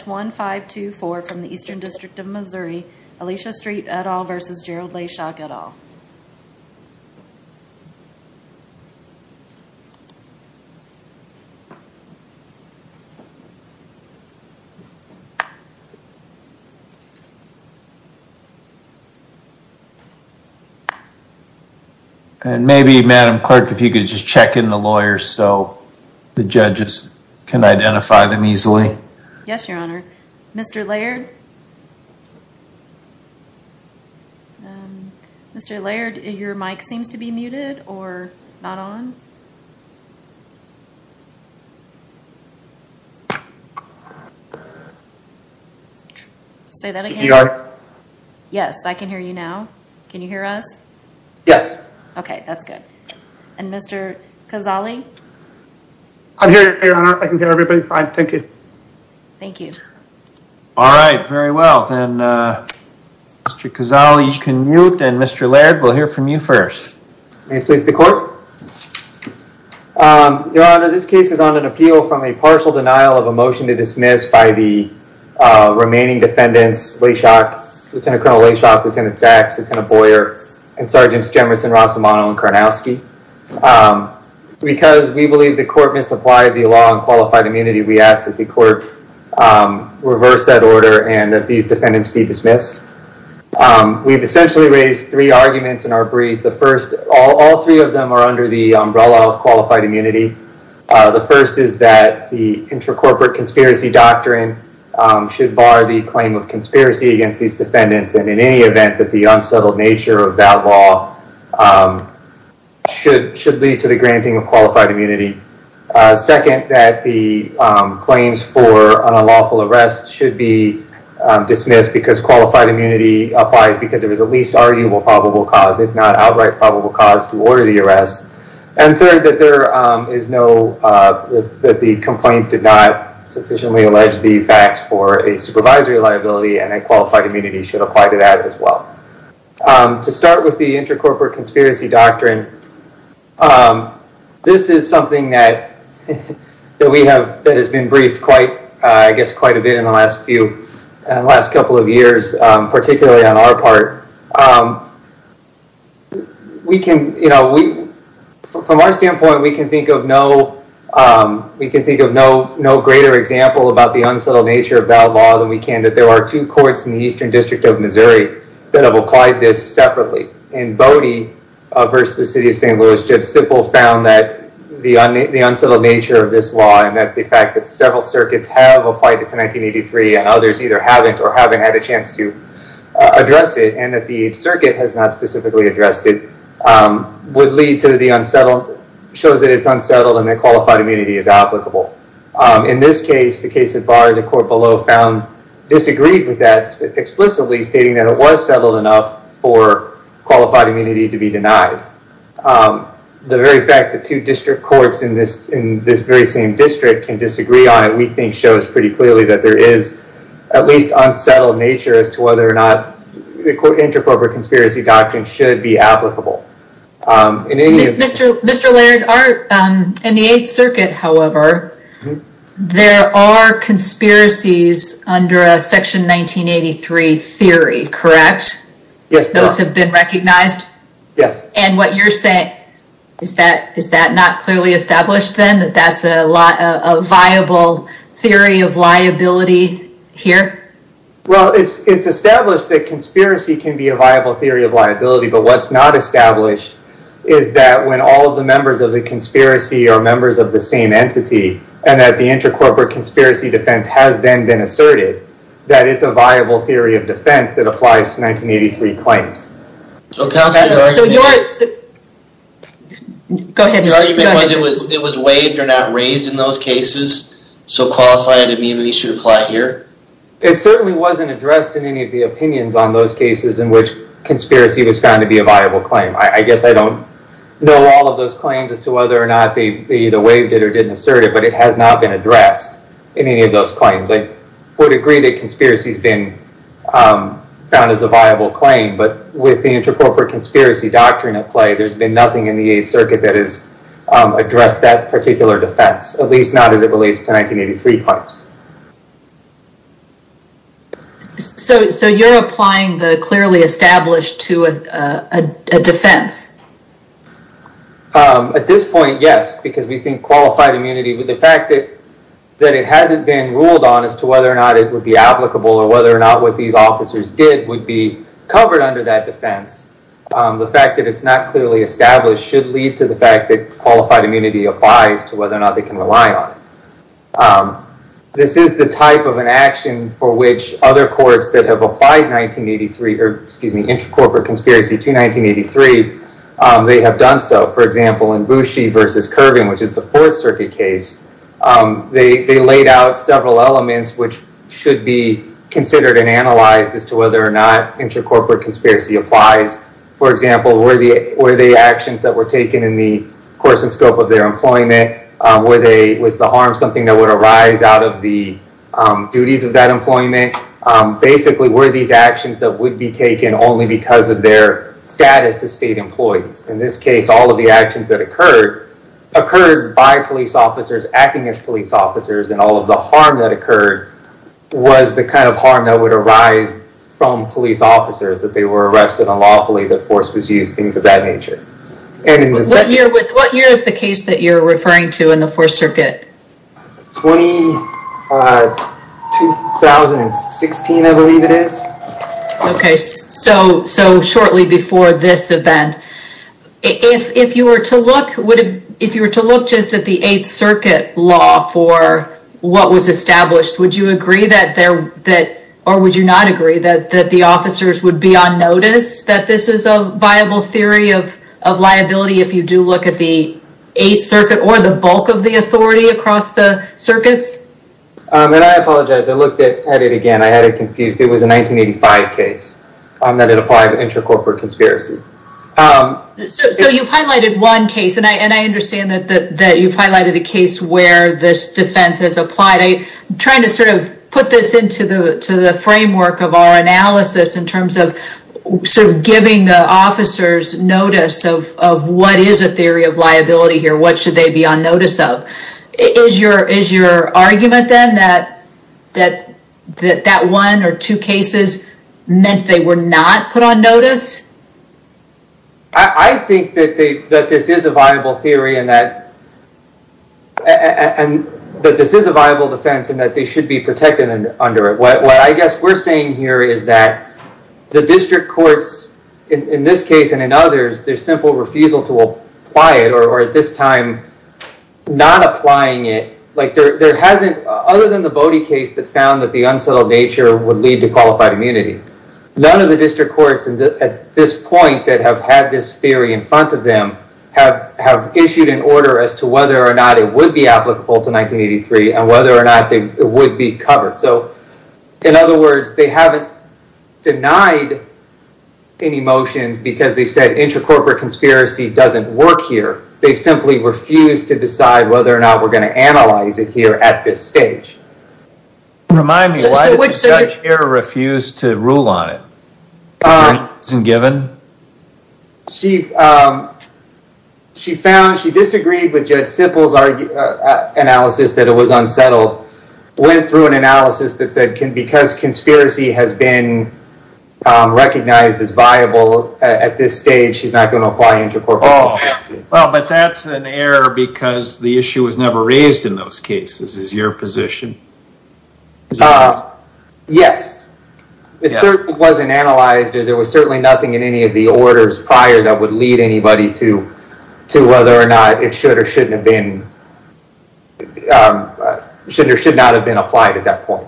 1-524 from the Eastern District of Missouri, Alicia Street et al. versus Gerald Leyshock et al. And maybe Madam Clerk if you could just check in the lawyers so the judges can identify them easily. Yes, Your Honor. Mr. Laird? Mr. Laird, your mic seems to be muted or not on. Say that again. Yes, I can hear you now. Can you hear us? Yes. OK, that's good. And Mr. Cazale? I'm here, Your Honor. I can hear everybody fine. Thank you. Thank you. All right. Very well. And Mr. Cazale, you can mute and Mr. Laird, we'll hear from you first. May I speak to the court? Your Honor, this case is on an appeal from a partial denial of a motion to dismiss by the remaining defendants, Lieutenant Colonel Leyshock, Lieutenant Sachs, Lieutenant Boyer, and Sergeants Jemerson, Rossimano, and Karnowski. Because we believe the court misapplied the law on qualified immunity, we ask that the court reverse that order and that these defendants be dismissed. We've essentially raised three arguments in our brief. The first, all three of them are under the umbrella of qualified immunity. The first is that the intracorporate conspiracy doctrine should bar the claim of conspiracy against these defendants and in any event that the unsettled nature of that law should should lead to the granting of qualified immunity. Second, that the claims for an unlawful arrest should be dismissed because qualified immunity applies because it was the least arguable probable cause, if not outright probable cause, to order the arrest. And third, that there is no that the complaint did not sufficiently allege the facts for a supervisory liability and a qualified immunity should apply to that as well. To start with the intracorporate conspiracy doctrine, this is something that that we have that has been briefed quite, I guess, quite a bit in the last few last couple of years, particularly on our part. We can, you know, we from our standpoint, we can think of no we can think of no no greater example about the unsettled nature of that law than we can that there are two courts in the eastern district of Missouri that have applied this separately in Bodie versus the city of St. Louis. Jeff Sipple found that the unsettled nature of this law and that the fact that several circuits have applied it to 1983 and others either haven't or haven't had a chance to address it and that the circuit has not specifically addressed it would lead to the unsettled shows that it's unsettled and that qualified immunity is applicable. In this case, the case of Bodie, the court below found disagreed with that explicitly stating that it was settled enough for qualified immunity to be denied. The very fact that two district courts in this in this very same district can disagree on it, we think shows pretty clearly that there is at least unsettled nature as to whether or not the intracorporate conspiracy doctrine should be applicable. Mr. Laird, in the 8th Circuit, however, there are conspiracies under a section 1983 theory, correct? Yes. Those have been recognized? Yes. And what you're saying is that is that not clearly established then that that's a lot of viable theory of liability here? Well, it's established that conspiracy can be a viable theory of liability, but what's not established is that when all of the members of the conspiracy are members of the same entity and that the intracorporate conspiracy defense has then been asserted, that it's a viable theory of defense that applies to 1983 claims. So your argument is that it was waived or not raised in those cases, so qualified immunity should apply here? It certainly wasn't addressed in any of the opinions on those cases in which conspiracy was found to be a viable claim. I guess I don't know all of those claims as to whether or not they either waived it or didn't assert it, but it has not been addressed in any of those claims. I would agree that conspiracy has been found as a viable claim, but with the intracorporate conspiracy doctrine at play, there's been nothing in the 8th Circuit that has addressed that particular defense, at least not as it relates to 1983 claims. So you're applying the clearly established to a defense? At this point, yes, because we think qualified immunity with the fact that it hasn't been ruled on as to whether or not it would be applicable or whether or not what these officers did would be covered under that defense. The fact that it's not clearly established should lead to the fact that qualified immunity applies to whether or not they can rely on it. This is the type of an action for which other courts that have applied 1983, or excuse me, intracorporate conspiracy to 1983, they have done so. For example, in Boushey v. Kerbin, which is the 4th Circuit case, they laid out several elements which should be considered and analyzed as to whether or not intracorporate conspiracy applies. For example, were the harms something that would arise out of the duties of that employment? Basically, were these actions that would be taken only because of their status as state employees? In this case, all of the actions that occurred, occurred by police officers, acting as police officers, and all of the harm that occurred was the kind of harm that would arise from police officers, that they were arrested unlawfully, that force was used, things of that nature. What year is the case that you're referring to in the 4th Circuit? 2016, I believe it is. Okay, so shortly before this event. If you were to look just at the 8th Circuit law for what was established, would you agree that, or would you not agree that the officers would be on notice, that this is a viable theory of liability if you do look at the 8th Circuit, or the bulk of the authority across the circuits? I apologize, I looked at it again, I had it confused. It was a 1985 case that it applied to intracorporate conspiracy. So you've highlighted one case, and I understand that you've highlighted a case where this defense has applied. I'm trying to sort of put this into the framework of our analysis in terms of sort of giving the officers notice of what is a theory of liability here, what should they be on notice of. Is your argument then that that one or two cases meant they were not put on notice? I think that this is a viable theory, and that this is a viable defense, and that they should be protected under it. What I guess we're saying here is that the district courts, in this case and in others, their simple refusal to apply it, or at this time not applying it, other than the Bodie case that found that the unsettled nature would lead to qualified immunity. None of the district courts at this point that have had this theory in front of them have issued an order as to whether or not it would be applicable to 1983, and whether or not it would be covered. So, in other words, they haven't denied any motions because they've said intracorporate conspiracy doesn't work here. They've simply refused to decide whether or not we're going to analyze it here at this stage. Remind me, why did the judge here refuse to rule on it? She found she disagreed with Judge Sippel's analysis that it was unsettled, went through an analysis that said because conspiracy has been recognized as viable at this stage, she's not going to apply intracorporate conspiracy. But that's an error because the issue was never raised in those cases, is your position? Yes. It certainly wasn't analyzed or there was certainly nothing in any of the orders prior that would lead anybody to whether or not it should or should not have been applied at that point.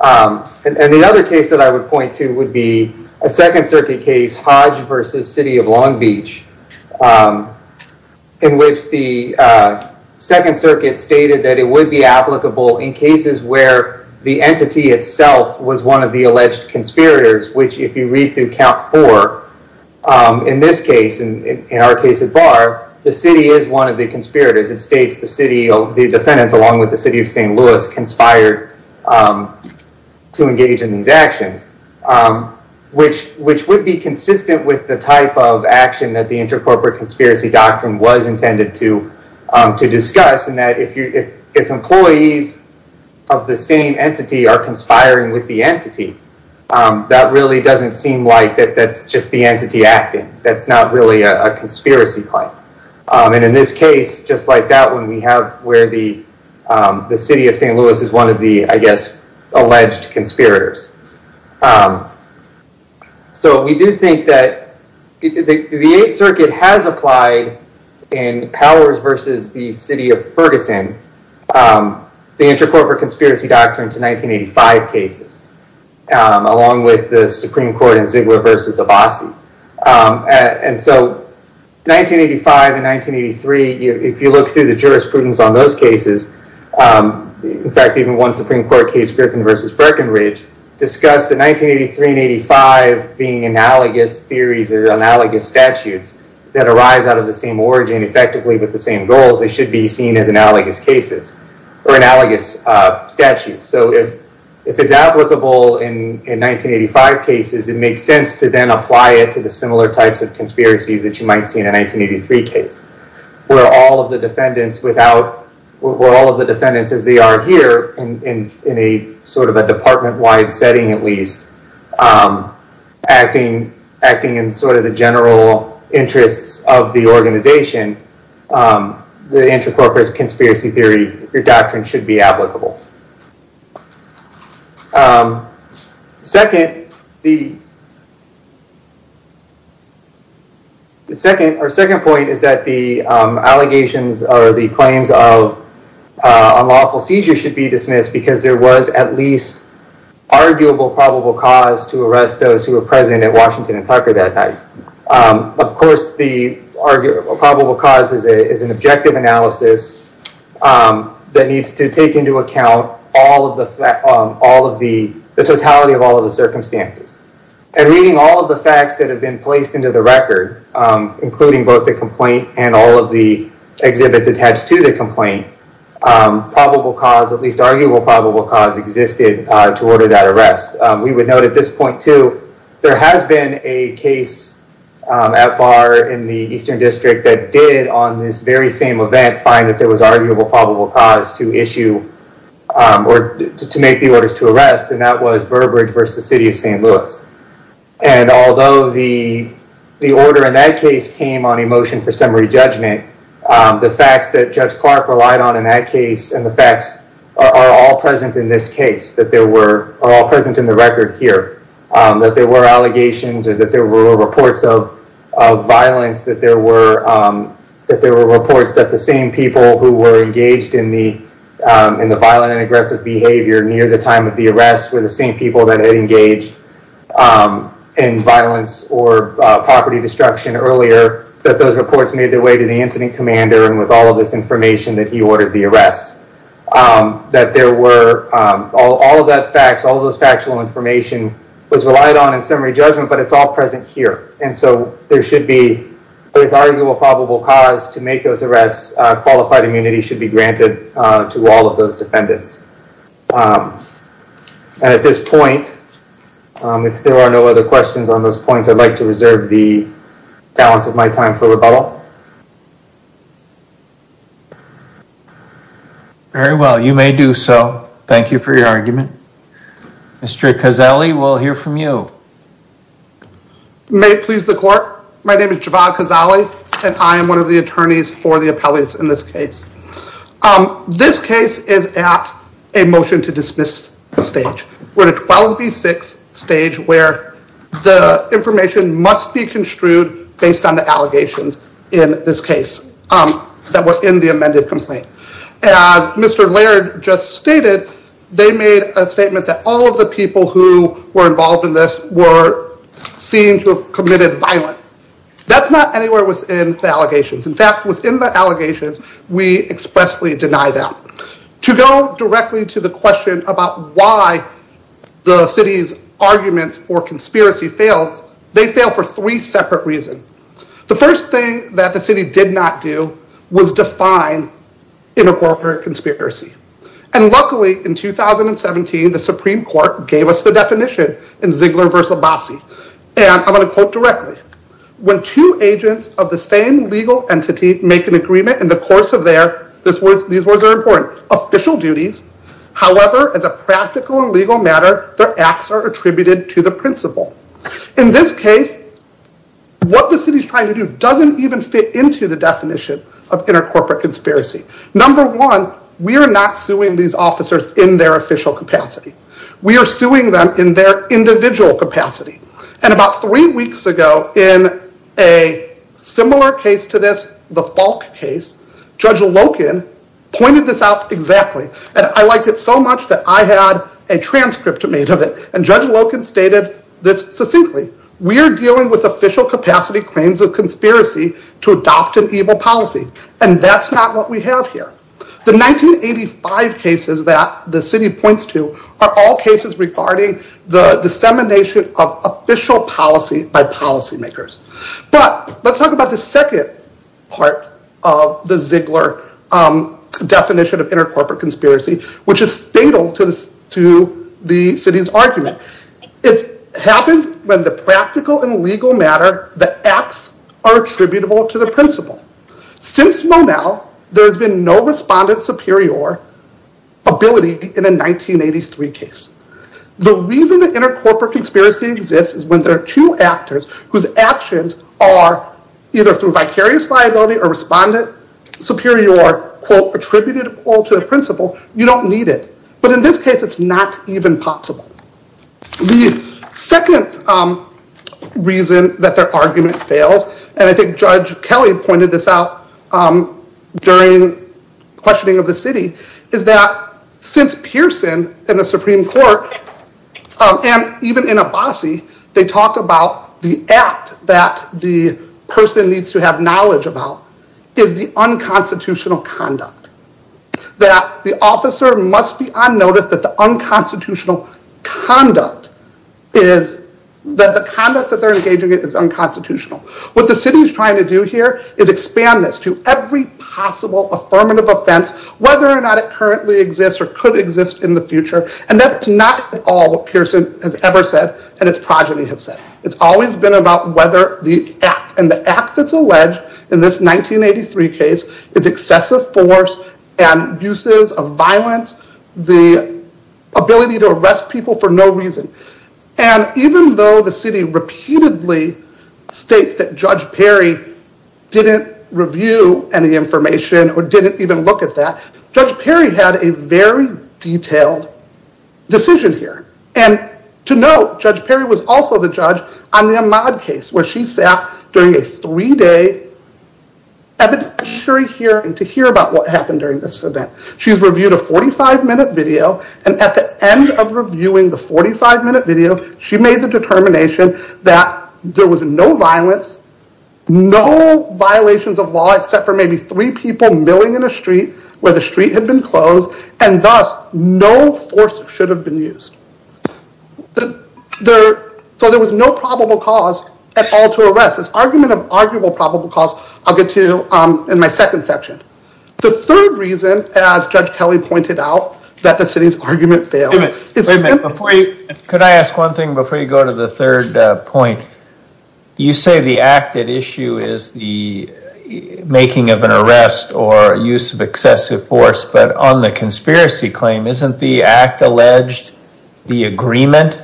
And the other case that I would point to would be a Second Circuit case, Hodge v. City of Long Beach, in which the Second Circuit stated that it would be applicable in cases where the entity itself was one of the alleged conspirators, which if you read through Count 4, in this case, in our case at Barr, the city is one of the conspirators. It states the city, the defendants, along with the city of St. Louis, conspired to engage in these actions, which would be consistent with the type of action that the intracorporate conspiracy doctrine was intended to discuss, in that if employees of the same entity are conspiring with the entity, that really doesn't constitute a conspiracy claim. And in this case, just like that one, we have where the city of St. Louis is one of the, I guess, alleged conspirators. So we do think that the Eighth Circuit has applied in Powers v. the City of Ferguson, the intracorporate conspiracy doctrine to 1985 cases, along with the Supreme Court in Ziegler v. Abbasi. And so 1985 and 1983, if you look through the jurisprudence on those cases, in fact, even one Supreme Court case, Griffin v. Birkenridge, discussed that 1983 and 1985 being analogous theories or analogous statutes that arise out of the same origin, effectively with the same goals, they should be seen as analogous cases, or analogous statutes. So if it's applicable in 1985 cases, it makes sense to then apply it to the similar types of conspiracies that you might see in a 1983 case, where all of the defendants, as they are here, in a department-wide setting at least, acting in the general interests of the organization, the intracorporate conspiracy theory doctrine should be applicable. Second, our second point is that the allegations or the claims of unlawful seizure should be dismissed because there was at least arguable probable cause to arrest those who were present at Washington and Tucker that night. Of course, the probable cause is an objective analysis that needs to take into account the totality of all of the circumstances. And reading all of the facts that have been placed into the record, including both the complaint and the claim, probable cause, at least arguable probable cause, existed to order that arrest. We would note at this point, too, there has been a case at bar in the Eastern District that did, on this very same event, find that there was arguable probable cause to issue or to make the orders to arrest, and that was Burbridge versus the city of St. Louis. And although the order in that case came on a motion for summary judgment, the facts that Judge Clark relied on in that case and the facts are all present in this case, are all present in the record here, that there were allegations or that there were reports of violence, that there were reports that the same people who were engaged in the violent and aggressive behavior near the time of the arrest were the same people that had engaged in violence or property destruction earlier, that those reports made their way to the incident commander and with all of this information that he ordered the arrest, that there were all of those factual information was relied on in summary judgment, but it's all present here. And so there should be, with arguable probable cause, to make those arrests, qualified immunity should be granted to all of those defendants. And at this point, if there are no other questions on those points, I'd like to reserve the balance of my time for rebuttal. Very well, you may do so. Thank you for your argument. Mr. Casali, we'll hear from you. May it please the court, my name is Javad Casali and I am one of the attorneys for the appellate in this case. This case is at a motion to dismiss stage. We're at a 12B6 stage where the information must be construed based on the allegations in this case that were in the amended complaint. As Mr. Laird just stated, they made a statement that all of the people who were involved in this were seen to have committed violence. That's not anywhere within the allegations. In fact, within the allegations, we expressly deny that. To go directly to the question about why the city's argument for conspiracy fails, they fail for three separate reasons. The first thing that the city did not do was define intercorporate conspiracy. And luckily, in 2017, the Supreme Court gave us the definition in Ziegler v. Abbasi. And I'm going to quote directly. When two agents of the same legal entity make an agreement in the course of their official duties, however, as a practical and legal matter, their acts are attributed to the principal. In this case, what the city is trying to do doesn't even fit into the definition of intercorporate conspiracy. Number one, we are not suing these officers in their official capacity. We are suing them in their individual capacity. And about three weeks ago, in a similar case to this, the Falk case, Judge Loken pointed this out exactly. And I liked it so much that I had a transcript made of it. And Judge Loken stated this succinctly. We are dealing with official The 1985 cases that the city points to are all cases regarding the dissemination of official policy by policy makers. But let's talk about the second part of the Ziegler definition of intercorporate conspiracy, which is fatal to the city's argument. It happens when the practical and legal matter, the acts are attributable to the principal. Since Monell, there has been no respondent superior ability in a 1983 case. The reason that intercorporate conspiracy exists is when there are two actors whose actions are either through vicarious liability or respondent superior, quote, attributed all to the principal, you don't need it. But in this case, it's not even possible. The second reason that their argument failed, and I think Judge Kelly pointed this out during questioning of the city, is that since Pearson and the Supreme Court and even in Abbasi, they talk about the act that the person needs to have knowledge about is the unconstitutional conduct. That the officer must be on notice that the unconstitutional conduct is, that the conduct that they're engaging in is unconstitutional. What the city is trying to do here is expand this to every possible affirmative offense, whether or not it currently exists or could exist in the future, and that's not at all what Pearson has ever said and its progeny has said. It's always been about whether the act, and the act that's alleged in this 1983 case is excessive force and uses of violence, the ability to arrest people for no reason. And even though the city repeatedly states that Judge Perry didn't review any information or didn't even look at that, Judge Perry had a very detailed decision here. And to note, Judge Perry was also the judge on the Ahmaud case where she sat during a three day evidentiary hearing to hear about what happened during this event. She's reviewed a 45 minute video, and at the end of reviewing the 45 minute video, she made the determination that there was no violence, no violations of law except for maybe three people milling in a street where the street had been closed, and thus no force should have been used. So there was no probable cause at all to arrest. This argument of arguable probable cause, I'll get to in my second section. The third reason, as Judge Kelly pointed out, that the city's argument failed... Could I ask one thing before you go to the third point? You say the excessive force, but on the conspiracy claim, isn't the act alleged the agreement?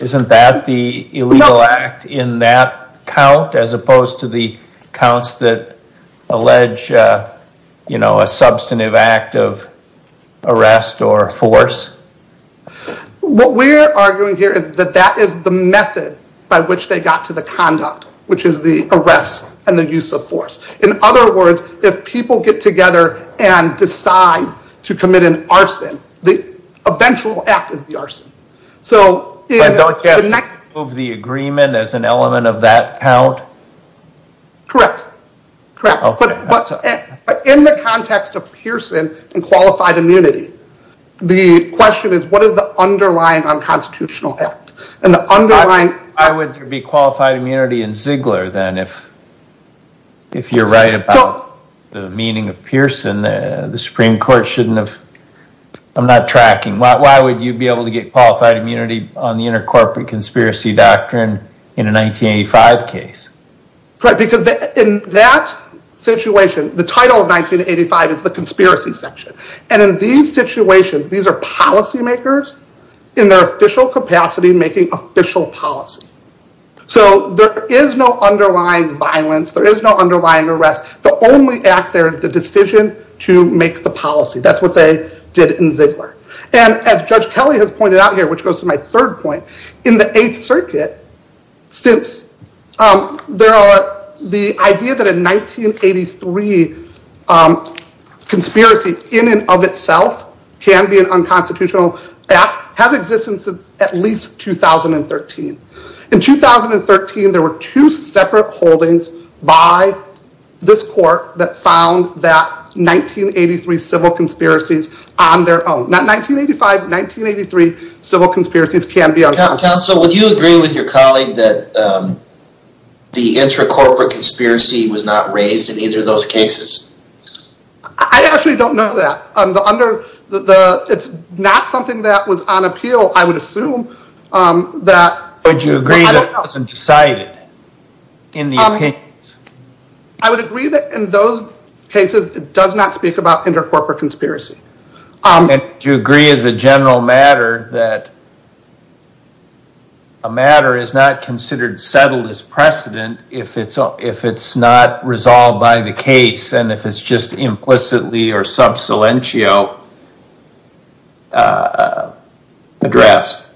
Isn't that the illegal act in that count as opposed to the counts that allege a substantive act of arrest or force? What we're arguing here is that that is the method by which they got to the point where they take it together and decide to commit an arson. The eventual act is the arson. Don't you have the agreement as an element of that count? Correct, but in the context of Pearson and qualified immunity, the question is what is the underlying unconstitutional act? Why would there be qualified immunity in Ziegler then? If you're right about the meaning of Pearson, the Supreme Court shouldn't have... I'm not tracking. Why would you be able to get qualified immunity on the inter-corporate conspiracy doctrine in a 1985 case? In that situation, the title of 1985 is the conspiracy section. In these situations, these are policymakers in their official capacity making official policy. There is no underlying violence. There is no underlying arrest. The only act there is the decision to make the policy. That's what they did in Ziegler. As Judge Kelly has pointed out here, which goes to my third point, in the Eighth Circuit, the idea that a 1983 conspiracy in and of itself can be an unconstitutional act has existed since at least 2013. In 2013, there were two separate holdings by this court that found that 1983 civil conspiracies on their own. Not 1985, 1983 civil conspiracies can be unconstitutional. Counsel, would you agree with your colleague that the inter-corporate conspiracy was not raised in either of those cases? I actually don't know that. It's not something that was on appeal, I would assume. Would you agree that it wasn't decided in the opinions? I would agree that in those cases, it does not speak about inter-corporate conspiracy. Do you agree as a general matter that a matter is not considered settled as precedent if it's not resolved by the case and if it's just implicitly or sub silentio addressed?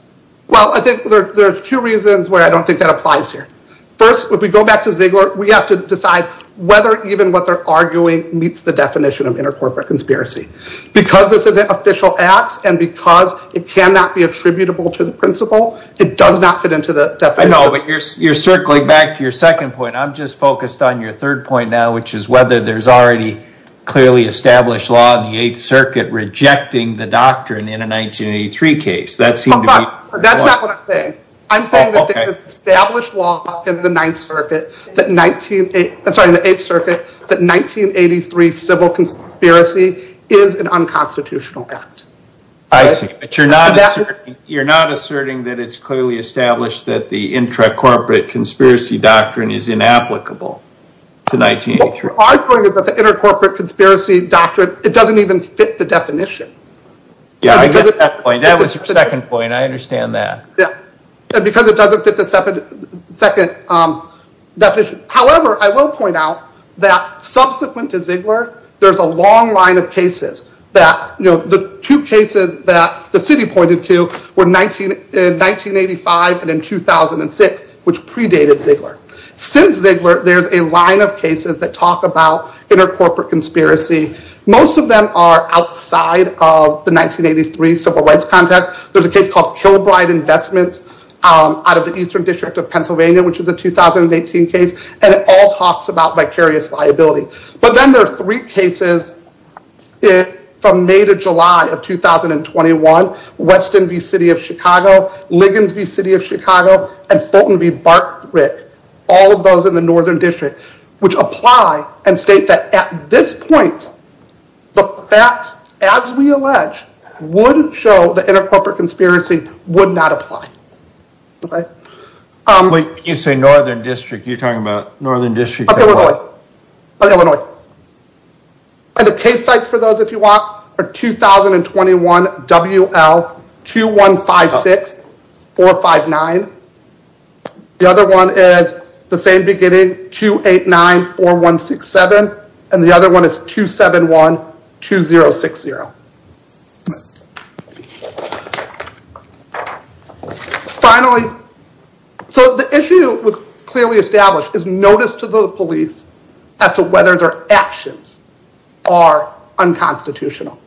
Well, I think there are two reasons why I don't think that applies here. First, if we go back to Ziegler, we have to decide whether even what they're arguing meets the definition of inter-corporate conspiracy. Because this is an official act and because it cannot be attributable to the principle, it does not fit into the definition. You're circling back to your second point. I'm just focused on your third point now, which is whether there's already clearly established law in the 8th Circuit rejecting the doctrine in a 1983 case. That's not what I'm saying. I'm saying that there's established law in the 8th Circuit that 1983 civil conspiracy is an unconstitutional act. You're not asserting that it's clearly established that the inter-corporate conspiracy doctrine is inapplicable to 1983. What we're arguing is that the inter-corporate conspiracy doctrine, it doesn't even fit the definition. Yeah, I get that point. That was your second point. I understand that. Because it doesn't fit the second definition. However, I will point out that subsequent to Ziegler, there's a long line of cases. The two cases that the city pointed to were 1985 and in 2006, which predated Ziegler. Since Ziegler, there's a line of cases that talk about inter-corporate conspiracy. Most of them are outside of the 1983 civil rights context. There's a case called Kilbride Investments out of the Eastern District of Pennsylvania, which was a 2018 case. It all talks about vicarious liability. Then there are three cases from May to July of 2021. Weston v. City of Chicago, Liggins v. City of Chicago, and Fulton v. Bartwick. All of those in the Northern District, which apply and state that at this point, the facts, as we allege, would show the inter-corporate conspiracy would not apply. You say Northern District. You're talking about Northern District of Illinois? Of Illinois. The case sites for those, if you want, are 2021 WL 2156-459. The other one is the same beginning, 289-4167. The other one is 271-2060. Finally, the issue clearly established is notice to the police as to whether their actions are unconstitutional.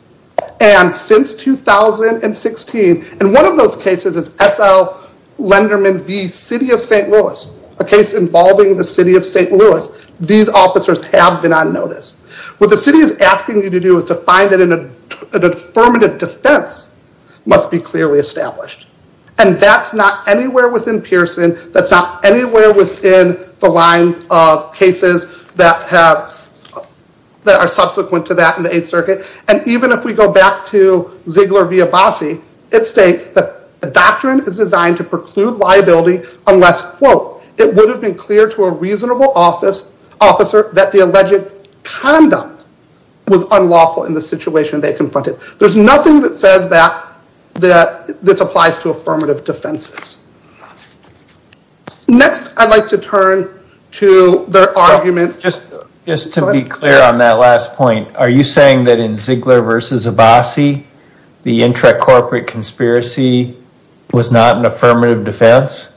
Since 2016, and one of those cases is S.L. Lenderman v. City of St. Louis, a case involving the City of St. Louis. These officers have been on notice. What the city is asking you to do is to find an affirmative defense must be clearly established. That's not anywhere within Pearson. That's not anywhere within the line of cases that are subsequent to that in the 8th Circuit. Even if we go back to Ziegler v. Abbasi, it states that the doctrine is designed to preclude liability unless, quote, it would have been clear to a reasonable officer that the alleged conduct was unlawful in the situation they confronted. There's nothing that says that this applies to affirmative defenses. Next, I'd like to turn to their argument. Just to be clear on that last point, are you saying that in Ziegler v. Abbasi, the intra-corporate conspiracy was not an affirmative defense?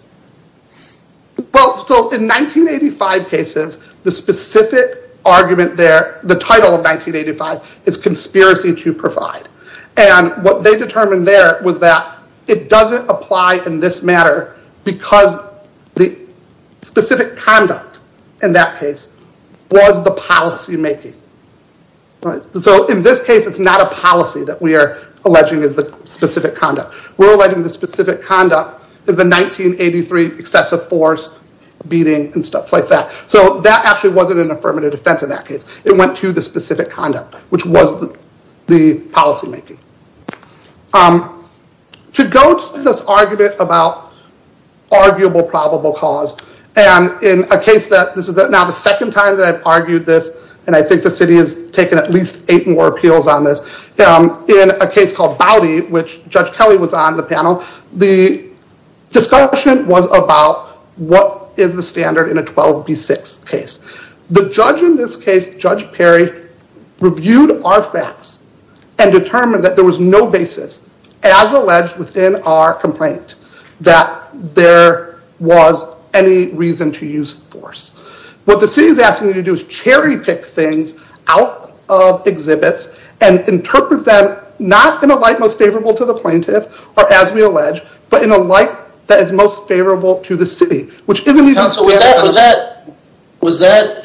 Well, in 1985 cases, the specific argument there, the title of 1985, is conspiracy to provide. What they determined there was that it doesn't apply in this matter because the specific conduct in that case was the policy making. In this case, it's not a policy that we are alleging is the specific conduct. We're alleging the specific conduct is the 1983 excessive force beating and stuff like that. That actually wasn't an affirmative defense in that case. It went to the specific conduct, which was the policy making. To go to this argument about arguable probable cause, and in a case that this is now the second time that I've argued this, and I think the city has taken at least eight more appeals on this, in a case called Bowdy, which Judge Kelly was on the panel, the discussion was about what is the standard in a 12B6 case. The judge in this case, Judge Perry, reviewed our facts and determined that there was no basis, as alleged within our complaint, that there was any reason to use force. What the city is asking you to do is cherry pick things out of exhibits and interpret them not in a light most favorable to the plaintiff, or as we allege, but in a light that is most favorable to the city, which isn't even- Was that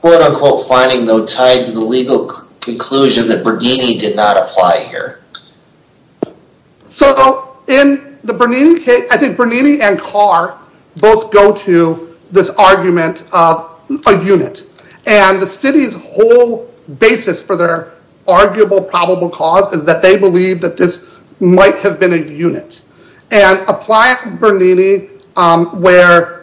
quote unquote finding though tied to the legal conclusion that Bernini did not apply here? So in the Bernini case, I think Bernini and Carr both go to this argument of a unit, and the city's whole basis for their arguable probable cause is that they believe that this might have been a unit, and applying Bernini where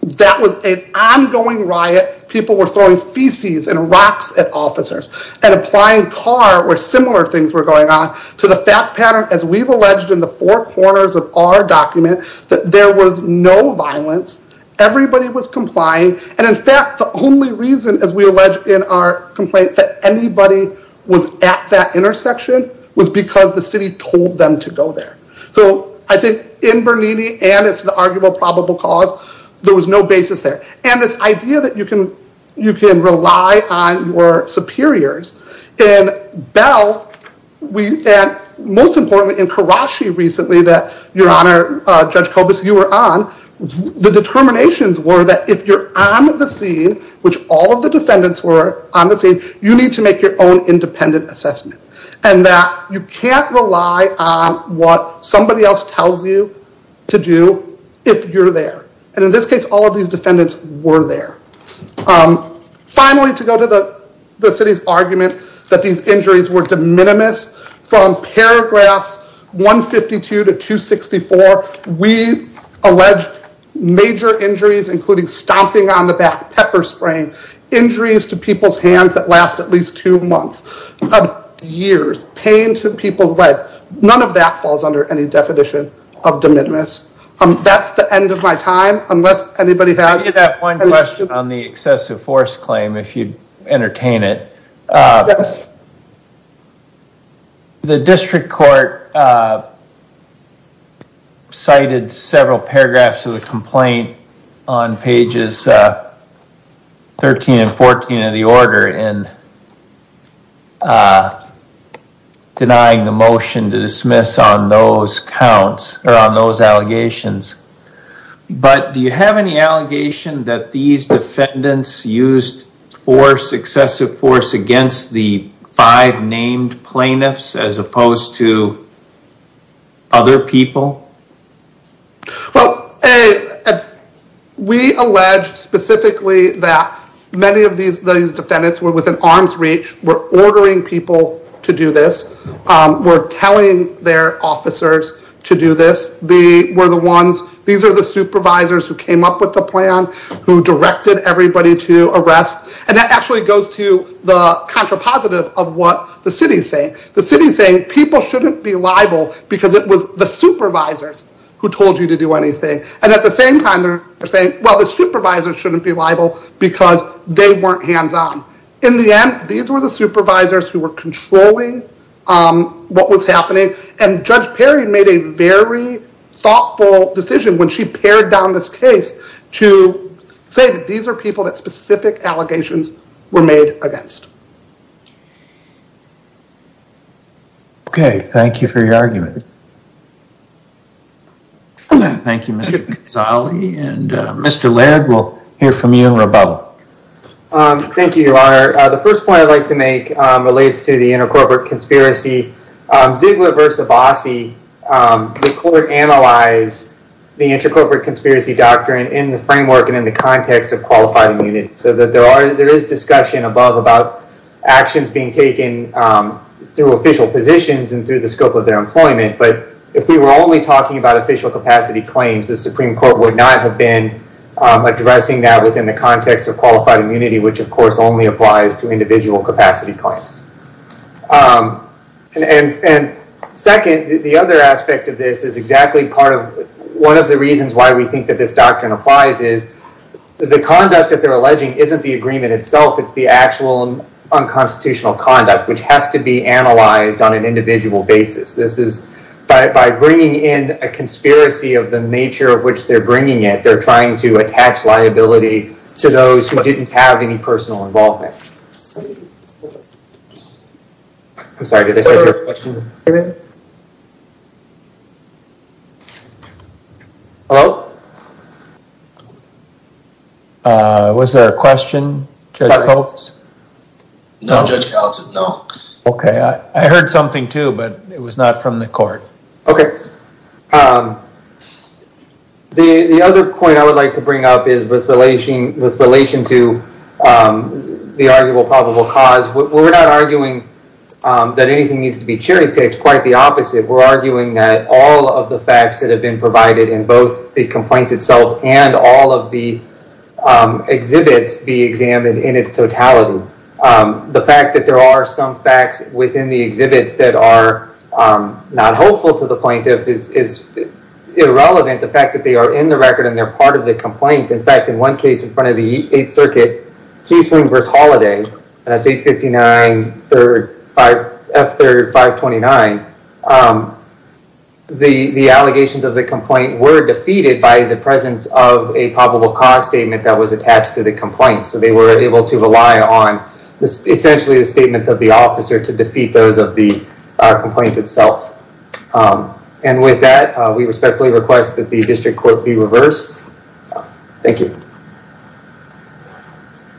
that was an ongoing riot, people were throwing feces and rocks at officers, and applying Carr where similar things were going on, to the fact pattern, as we've alleged in the four corners of our document, that there was no violence, everybody was complying, and in fact, the only reason, as we allege in our complaint, that anybody was at that intersection was because the city told them to go there. So I think in Bernini, and it's the arguable probable cause, there was no basis there. And this idea that you can rely on your superiors. In Bell, and most importantly, in Karashi recently, that your honor, Judge Kobus, you were on, the determinations were that if you're on the scene, which all of the defendants were on the scene, you need to make your own independent assessment, and that you can't rely on what somebody else tells you to do, if you're there. And in this case, all of these defendants were there. Finally, to go to the city's argument that these injuries were de minimis, from paragraphs 152 to 264, we allege major injuries, including stomping on the back, pepper spraying, injuries to people's life. None of that falls under any definition of de minimis. That's the end of my time, unless anybody has... I did have one question on the excessive force claim, if you entertain it. The district court cited several paragraphs of the complaint on pages 13 and 14 of the order in denying the motion to dismiss on those allegations. But do you have any allegation that these defendants used force, excessive force, against the five named plaintiffs, as opposed to other people? Well, we allege specifically that many of these defendants were within arm's reach, were ordering people to do this, were telling their officers to do this. These are the supervisors who came up with the plan, who directed everybody to arrest. And that actually goes to the contrapositive of what the city is saying. The city is saying people shouldn't be liable because it was the supervisors who told you to do anything. And at the same time, they're saying, well, the supervisors shouldn't be liable because they weren't hands on. In the end, these were the supervisors who were controlling what was happening. And Judge Perry made a very thoughtful decision when she pared down this case to say that these are people that specific allegations were made against. Okay. Thank you for your argument. Thank you, Mr. Gonzalez. And Mr. Laird, we'll hear from you in a little while. Thank you, Your Honor. The first point I'd like to make relates to the intercorporate conspiracy. Ziegler v. Abbasi, the court analyzed the intercorporate conspiracy doctrine in the framework and in the context of qualified immunity. So that there is discussion above about actions being taken through official positions and through the scope of their employment. But if we were only talking about official capacity claims, the Supreme Court would not have been addressing that within the context of qualified immunity, which of course only applies to individual capacity claims. And second, the other aspect of this is exactly one of the reasons why we think that this doctrine applies is the conduct that they're alleging isn't the agreement itself, it's the actual unconstitutional conduct which has to be analyzed on an individual basis. By bringing in a conspiracy of the nature of which they're bringing it, they're trying to attach liability to those who didn't have any personal involvement. I'm sorry, did I start your question? Hello? Was there a question, Judge Coates? No, Judge Gallatin, no. Okay, I heard something too, but it was not from the court. Okay, the other point I would like to bring up is with relation to the arguable probable cause. We're not arguing that anything needs to be cherry picked, quite the opposite. We're arguing that all of the facts that have been provided in both the complaint itself and all of the exhibits be examined in its totality. The fact that there are some facts within the exhibits that are not hopeful to the plaintiff is irrelevant. The fact that they are in the record and they're part of the complaint. In fact, in one case in front of the 8th Circuit, Kiesling v. Holliday, that's 859 F3 529, the allegations of the complaint were defeated by the presence of a probable cause statement that was attached to the complaint. They were able to rely on essentially the statements of the officer to defeat those of the complaint itself. With that, we respectfully request that the district court be reversed. Thank you.